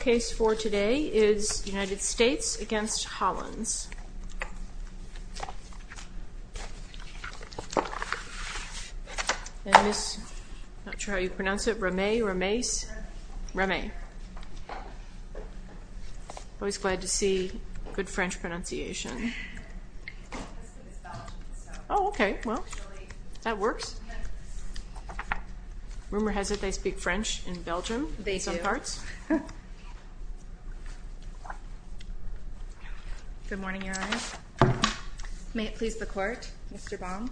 Case for today is United States against Hollins. I'm not sure how you pronounce it, Ramay, Ramay, Ramay. Always glad to see good French pronunciation. Oh okay, well that works. Rumor has it they speak French in Belgium. They do. Good morning, Your Honor. May it please the court, Mr. Baum.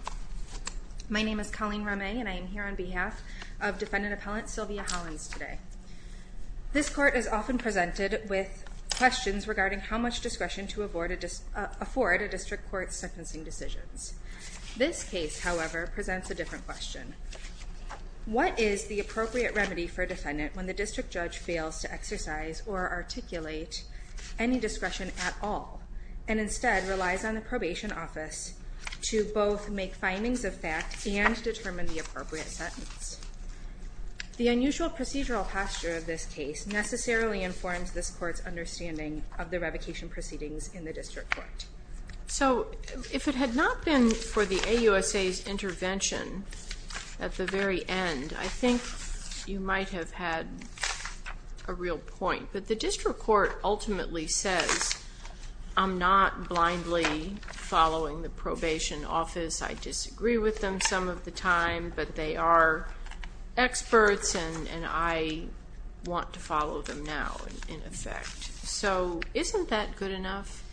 My name is Colleen Ramay and I am here on behalf of defendant appellant Sylvia Hollins today. This court is often presented with questions regarding how much discretion to afford a case, however, presents a different question. What is the appropriate remedy for a defendant when the district judge fails to exercise or articulate any discretion at all and instead relies on the probation office to both make findings of fact and determine the appropriate sentence? The unusual procedural posture of this case necessarily informs this court's understanding of the revocation proceedings in the district court. So if it had not been for the AUSA's intervention at the very end, I think you might have had a real point, but the district court ultimately says I'm not blindly following the probation office. I disagree with them some of the time, but they are experts and I want to follow them now in effect. So isn't that good enough?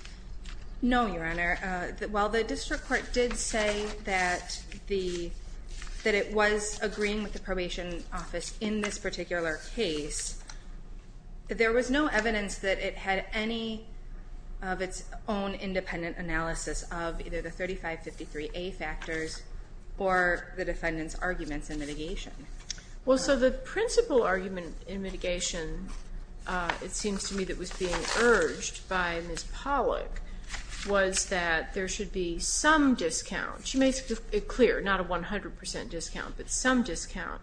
No, Your Honor. While the district court did say that it was agreeing with the probation office in this particular case, there was no evidence that it had any of its own independent analysis of either the 3553A factors or the defendant's arguments in mitigation. Well, so the principal argument in mitigation, it Ms. Pollock, was that there should be some discount. She makes it clear, not a 100% discount, but some discount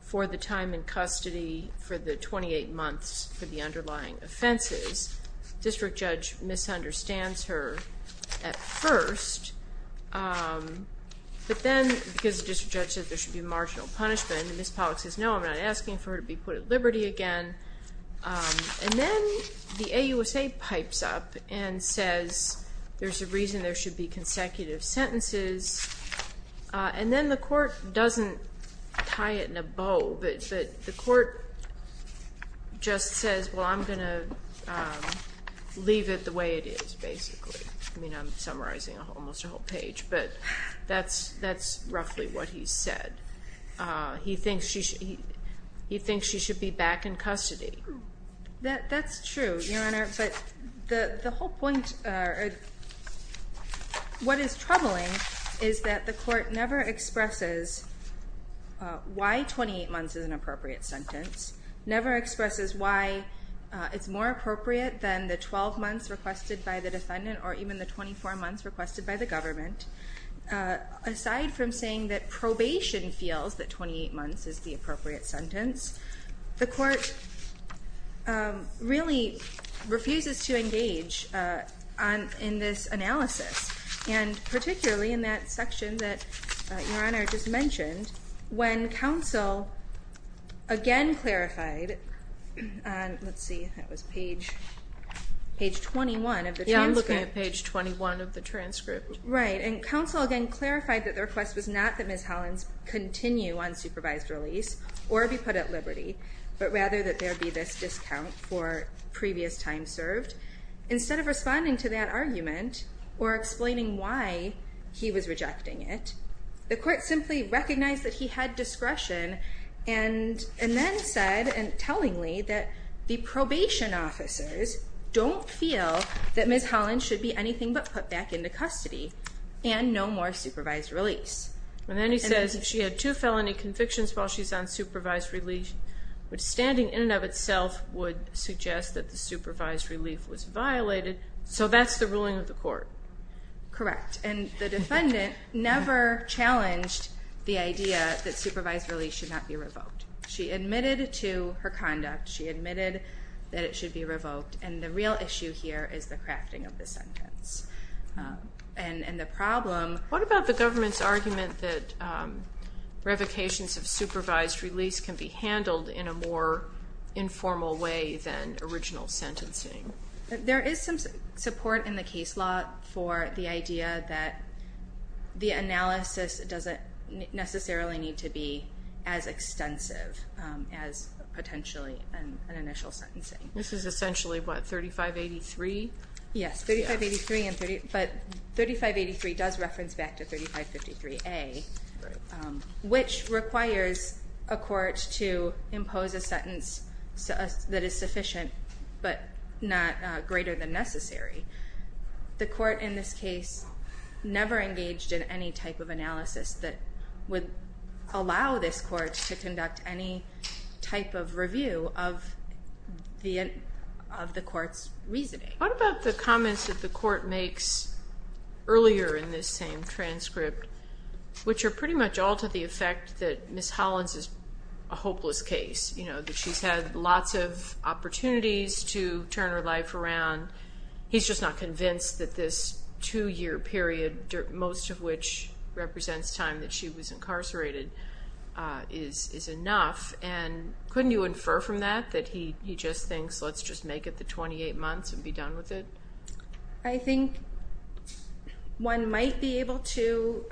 for the time in custody for the 28 months for the underlying offenses. District judge misunderstands her at first, but then because the district judge said there should be marginal punishment and Ms. Pollock says no, I'm not asking for her to be put at liberty again, and then the AUSA says there's a reason there should be consecutive sentences, and then the court doesn't tie it in a bow, but the court just says, well, I'm going to leave it the way it is, basically. I mean, I'm summarizing almost a whole page, but that's roughly what he said. He thinks she should be back in custody. That's true, Your Honor, but the whole point, what is troubling is that the court never expresses why 28 months is an appropriate sentence, never expresses why it's more appropriate than the 12 months requested by the defendant or even the 24 months requested by the government. Aside from saying that probation feels that 28 months is the appropriate sentence, the court really refuses to engage in this analysis, and particularly in that section that Your Honor just mentioned, when counsel again clarified, and let's see, that was page page 21 of the transcript. Yeah, I'm looking at page 21 of the transcript. Right, and the court simply recognized that he had discretion, and then said, and tellingly, that the probation officers don't feel that Ms. Holland should be anything but put back into custody, and no more supervised release. And then he says, if she had two felony convictions while she's on supervised relief, which standing in and of itself would suggest that the supervised relief was violated, so that's the ruling of the court. Correct, and the defendant never challenged the idea that supervised release should not be revoked. She admitted to her conduct, she admitted that it should be revoked, and the real issue here is the crafting of the sentence, and the problem... What about the government's argument that revocations of supervised release can be handled in a more informal way than original sentencing? There is some support in the case law for the idea that the analysis doesn't necessarily need to be as extensive as potentially an initial sentencing. This is essentially what, 3583? Yes, 3583, but 3583 does reference back to 3553A, which requires a court to impose a sentence that is sufficient but not greater than necessary. The court in this case never engaged in any type of analysis that would allow this court to What about the comments that the court makes earlier in this same transcript, which are pretty much all to the effect that Ms. Hollins is a hopeless case, you know, that she's had lots of opportunities to turn her life around, he's just not convinced that this two-year period, most of which represents time that she was incarcerated, is enough, and couldn't you infer from that that he just thinks let's just make it the 28 months and be done with it? I think one might be able to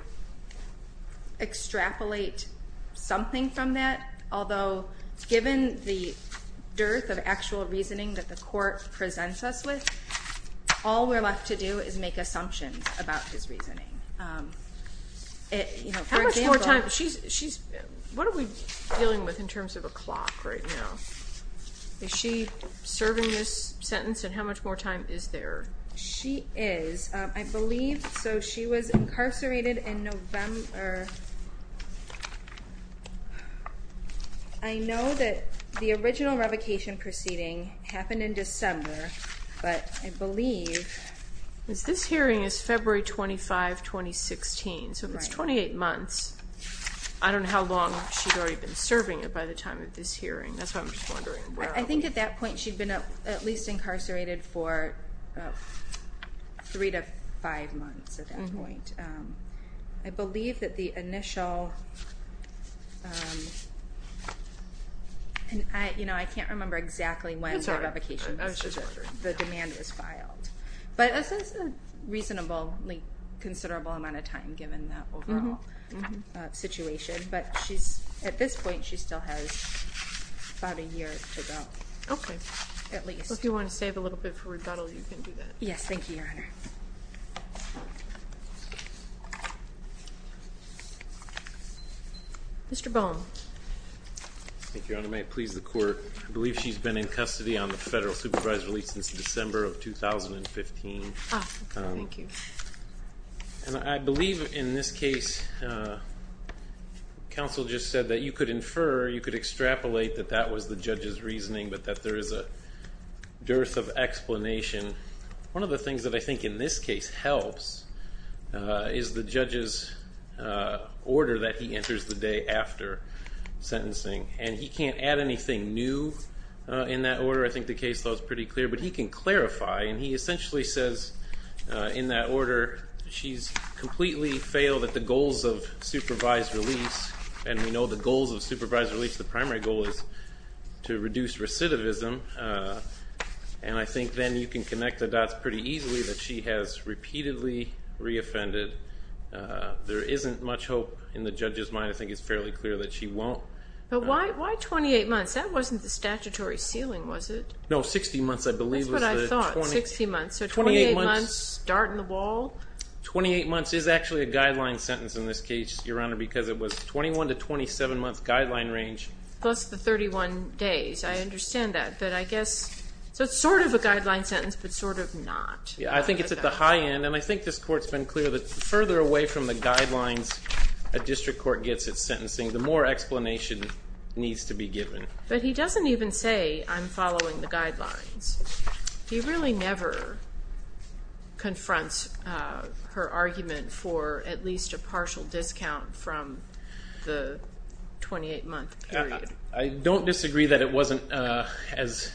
extrapolate something from that, although given the dearth of actual reasoning that the court presents us with, all we're left to do is make assumptions about his reasoning. How much more time, what are we dealing with in terms of a clock right now? Is she serving this sentence and how much more time is there? She is, I believe, so she was incarcerated in November, I know that the original revocation proceeding happened in December, but I believe... This hearing is February 25, 2016, so it's 28 months. I don't know how long she's already been serving it by the time of this hearing, that's why I'm just wondering. I think at that point she'd been at least incarcerated for three to five months at that point. I believe that the initial, you know, I can't remember exactly when the revocation was, the demand was filed, but this is a reasonably considerable amount of time given the overall situation, but she at this point she still has about a year to go, at least. If you want to save a little bit for rebuttal, you can do that. Yes, thank you, Your Honor. Mr. Bohn. Thank you, Your Honor. May it please the court, I believe she's been in custody on the federal supervisory since December of 2015. I believe in this case counsel just said that you could infer, you could extrapolate that that was the judge's reasoning, but that there is a dearth of explanation. One of the things that I think in this case helps is the judge's order that he enters the day after sentencing, and he can't add anything new in that order. I think the case law is pretty clear, but he can clarify, and he essentially says in that supervised release, and we know the goals of supervised release, the primary goal is to reduce recidivism, and I think then you can connect the dots pretty easily that she has repeatedly reoffended. There isn't much hope in the judge's mind. I think it's fairly clear that she won't. But why 28 months? That wasn't the statutory ceiling, was it? No, 60 months, I believe. That's what I thought, 60 months. So 28 months, dart in the wall? 28 months is actually a guideline sentence in this case, Your Honor, because it was 21 to 27 month guideline range. Plus the 31 days, I understand that, but I guess, so it's sort of a guideline sentence, but sort of not. Yeah, I think it's at the high end, and I think this court's been clear that further away from the guidelines a district court gets at sentencing, the more explanation needs to be given. But he doesn't even say, I'm following the guidelines. He really never confronts her argument for at least a partial discount from the 28-month period. I don't disagree that it wasn't as...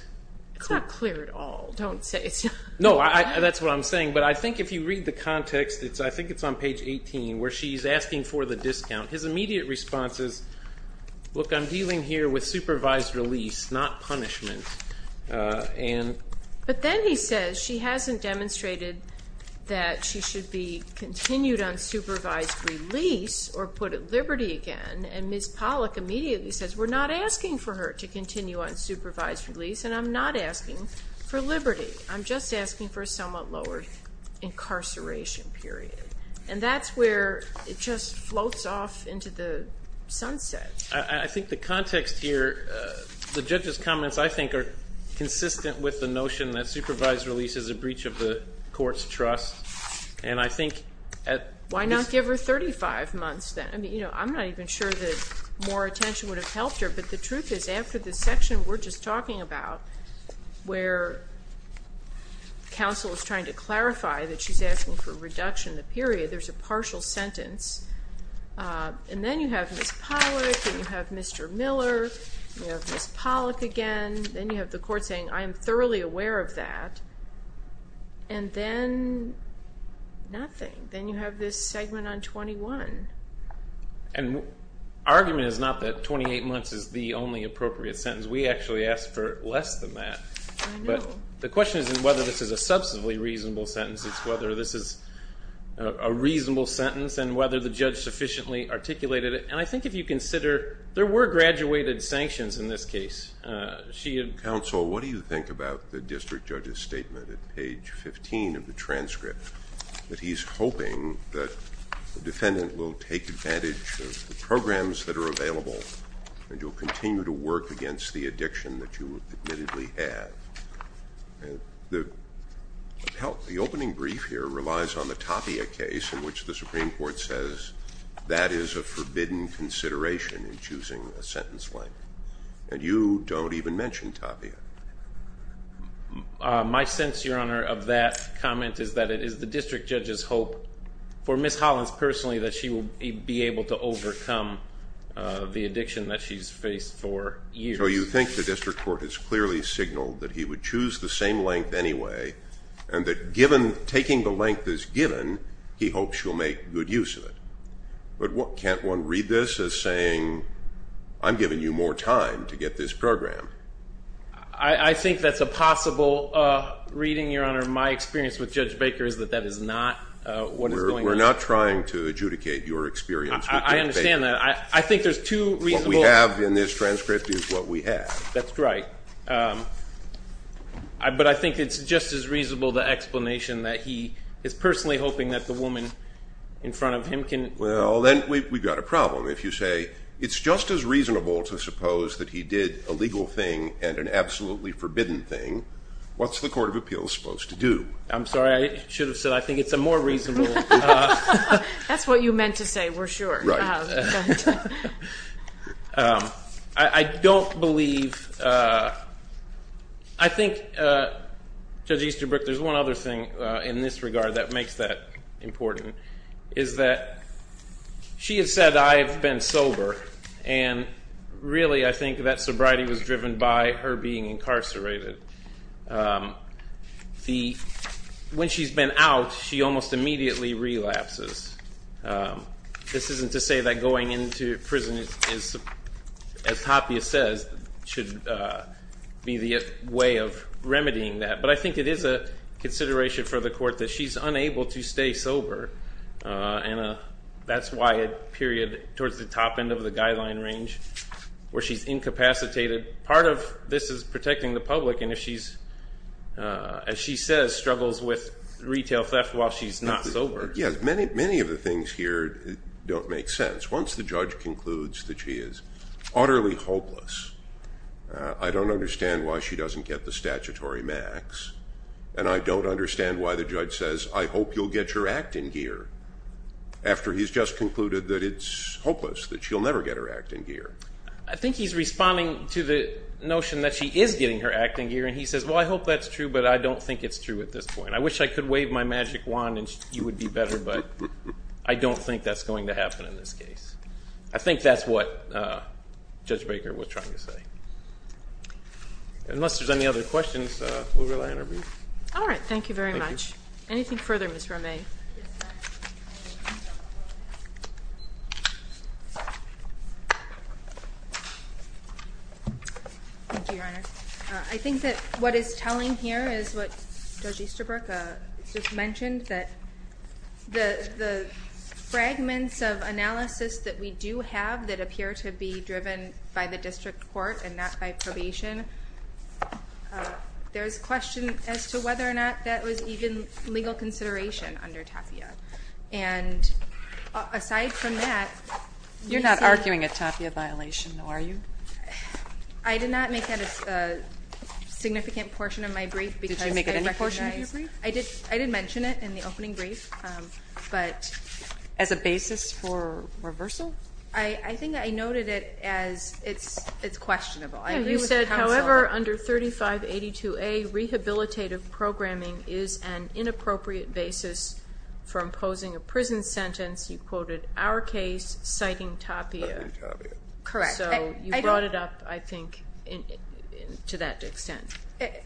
It's not clear at all. Don't say it's not. No, that's what I'm saying, but I think if you read the context, I think it's on page 18, where she's asking for the discount. His immediate response is, look, I'm dealing here with supervised release, not punishment. But then he says she hasn't demonstrated that she should be released or put at liberty again, and Ms. Pollack immediately says, we're not asking for her to continue on supervised release, and I'm not asking for liberty. I'm just asking for a somewhat lower incarceration period. And that's where it just floats off into the sunset. I think the context here, the judge's comments, I think, are consistent with the notion that supervised release is a breach of the court's trust, and I think... Why not give her 35 months then? I mean, you know, I'm not even sure that more attention would have helped her, but the truth is, after this section we're just talking about, where counsel is trying to clarify that she's asking for a reduction in the period, there's a partial sentence, and then you have Ms. Pollack, then you have Mr. Miller, you have Ms. Pollack again, then you have the and then nothing. Then you have this segment on 21. And argument is not that 28 months is the only appropriate sentence. We actually asked for less than that. But the question isn't whether this is a substantively reasonable sentence, it's whether this is a reasonable sentence, and whether the judge sufficiently articulated it. And I think if you consider, there were graduated sanctions in this case. Counsel, what do you think about the district judge's statement at page 15 of the transcript, that he's hoping that the defendant will take advantage of the programs that are available, and you'll continue to work against the addiction that you admittedly have? The opening brief here relies on the Tapia case, in which the Supreme Court says that is a forbidden consideration in choosing a sentence length, and you don't even mention Tapia. My sense, Your Honor, of that comment is that it is the district judge's hope, for Ms. Hollins personally, that she will be able to overcome the addiction that she's faced for years. So you think the district court has clearly signaled that he would choose the same length anyway, and that given taking the length is given, he hopes you'll make good use of it. But what can't one read this as saying, I'm giving you more time to get this program? I think that's a possible reading, Your Honor. My experience with Judge Baker is that that is not what is going on. We're not trying to adjudicate your experience. I understand that. I think there's two reasonable... What we have in this transcript is what we have. That's right. But I think it's just as reasonable the explanation that he is personally hoping that the woman in front of him can... Well, then we've got a problem if you say, it's just as reasonable to suppose that he did a legal thing and an absolutely forbidden thing. What's the Court of Appeals supposed to do? I'm sorry, I should have said, I think it's a more reasonable... That's what you meant to say, we're sure. I don't believe... I think, Judge Easterbrook, there's one other thing in this regard that makes that important, is that she has said, I've been sober. And really, I think that sobriety was driven by her being incarcerated. When she's been out, she almost immediately relapses. This isn't to say that going into prison is, as Tapia says, should be the way of remedying that. But I think it is a consideration for the court that she's period, towards the top end of the guideline range, where she's incapacitated. Part of this is protecting the public, and if she's, as she says, struggles with retail theft while she's not sober. Yes, many of the things here don't make sense. Once the judge concludes that she is utterly hopeless, I don't understand why she doesn't get the statutory max, and I don't understand why the judge says, I hope you'll get your act in gear, after he's just concluded that it's hopeless, that she'll never get her act in gear. I think he's responding to the notion that she is getting her act in gear, and he says, well, I hope that's true, but I don't think it's true at this point. I wish I could wave my magic wand and you would be better, but I don't think that's going to happen in this case. I think that's what Judge Baker was trying to say. Unless there's any other questions, we'll rely on our briefs. All right, thank you very much. Anything further, Ms. Romay? I think that what is telling here is what Judge Easterbrook just mentioned, that the fragments of analysis that we do have that appear to be there's question as to whether or not that was even legal consideration under TAFIA, and aside from that, you're not arguing a TAFIA violation, are you? I did not make that a significant portion of my brief. Did you make it any portion of your brief? I did mention it in the opening brief, but, as a basis for reversal? I think I noted it as it's questionable. You said, however, under 3582A, rehabilitative programming is an inappropriate basis for imposing a prison sentence. You quoted our case citing TAFIA. Correct. So you brought it up, I think, to that extent.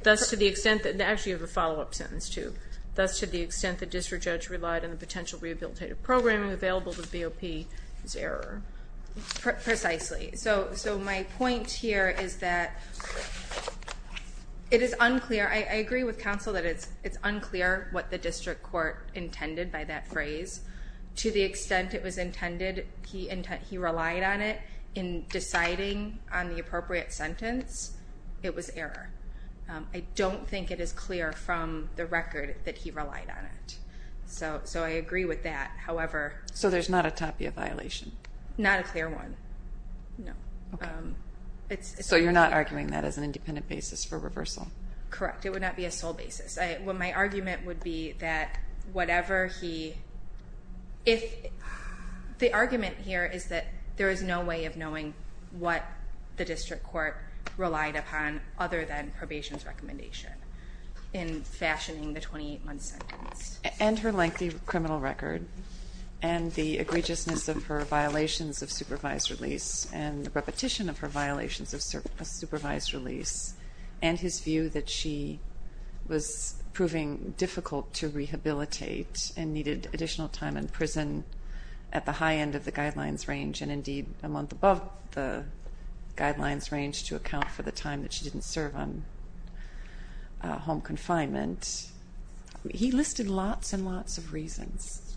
That's to the extent that, actually you have a follow-up sentence, too, that's to the extent that district judge relied on the potential rehabilitative programming available to the BOP as error. Precisely. So my point here is that it is unclear, I agree with counsel that it's unclear what the district court intended by that phrase. To the extent it was intended, he relied on it. In deciding on the appropriate sentence, it was error. I don't think it is clear from the record that he relied on it. So I agree with that, however. So there's not a TAFIA violation? Not a clear one, no. So you're not arguing that as an independent basis for reversal? Correct. It would not be a sole basis. My argument would be that whatever he, if, the argument here is that there is no way of knowing what the district court relied upon other than probation's in fashioning the 28-month sentence. And her lengthy criminal record, and the egregiousness of her violations of supervised release, and the repetition of her violations of supervised release, and his view that she was proving difficult to rehabilitate and needed additional time in prison at the high end of the guidelines range, and indeed a month above the guidelines range to account for the time that she didn't serve on home confinement. He listed lots and lots of reasons.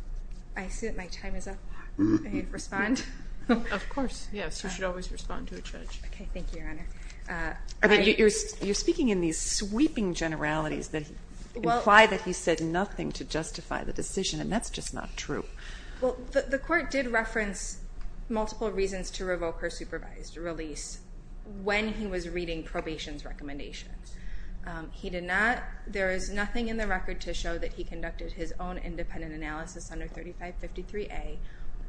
I see that my time is up. May I respond? Of course, yes, you should always respond to a judge. Okay, thank you, Your Honor. You're speaking in these sweeping generalities that imply that he said nothing to justify the decision, and that's just not true. Well, the court did reference multiple reasons to revoke her supervised release when he was reading probation's recommendations. He did not, there is nothing in the record to show that he conducted his own independent analysis under 3553A,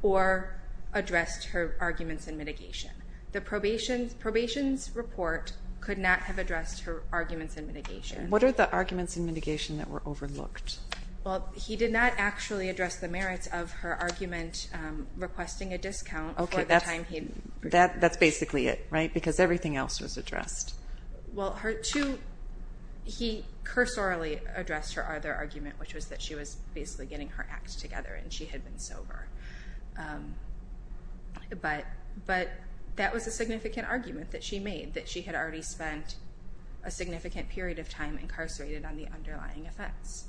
or addressed her arguments in mitigation. The probation's report could not have addressed her arguments in mitigation. What are the arguments in mitigation that were overlooked? Well, he did not actually address the merits of her argument requesting a discount for the time he served. That's basically it, right? Because everything else was addressed. Well, he cursorily addressed her other argument, which was that she was basically getting her act together, and she had been sober. But that was a significant argument that she made, that she had already spent a significant period of time incarcerated on the underlying offense,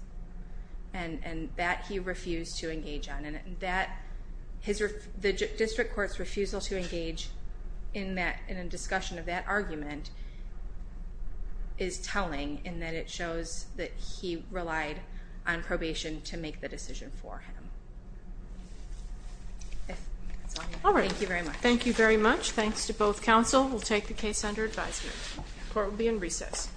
and that he refused to engage on. And the discussion of that argument is telling, in that it shows that he relied on probation to make the decision for him. All right, thank you very much. Thank you very much. Thanks to both counsel. We'll take the case under advisement. Court will be in recess. Thank you.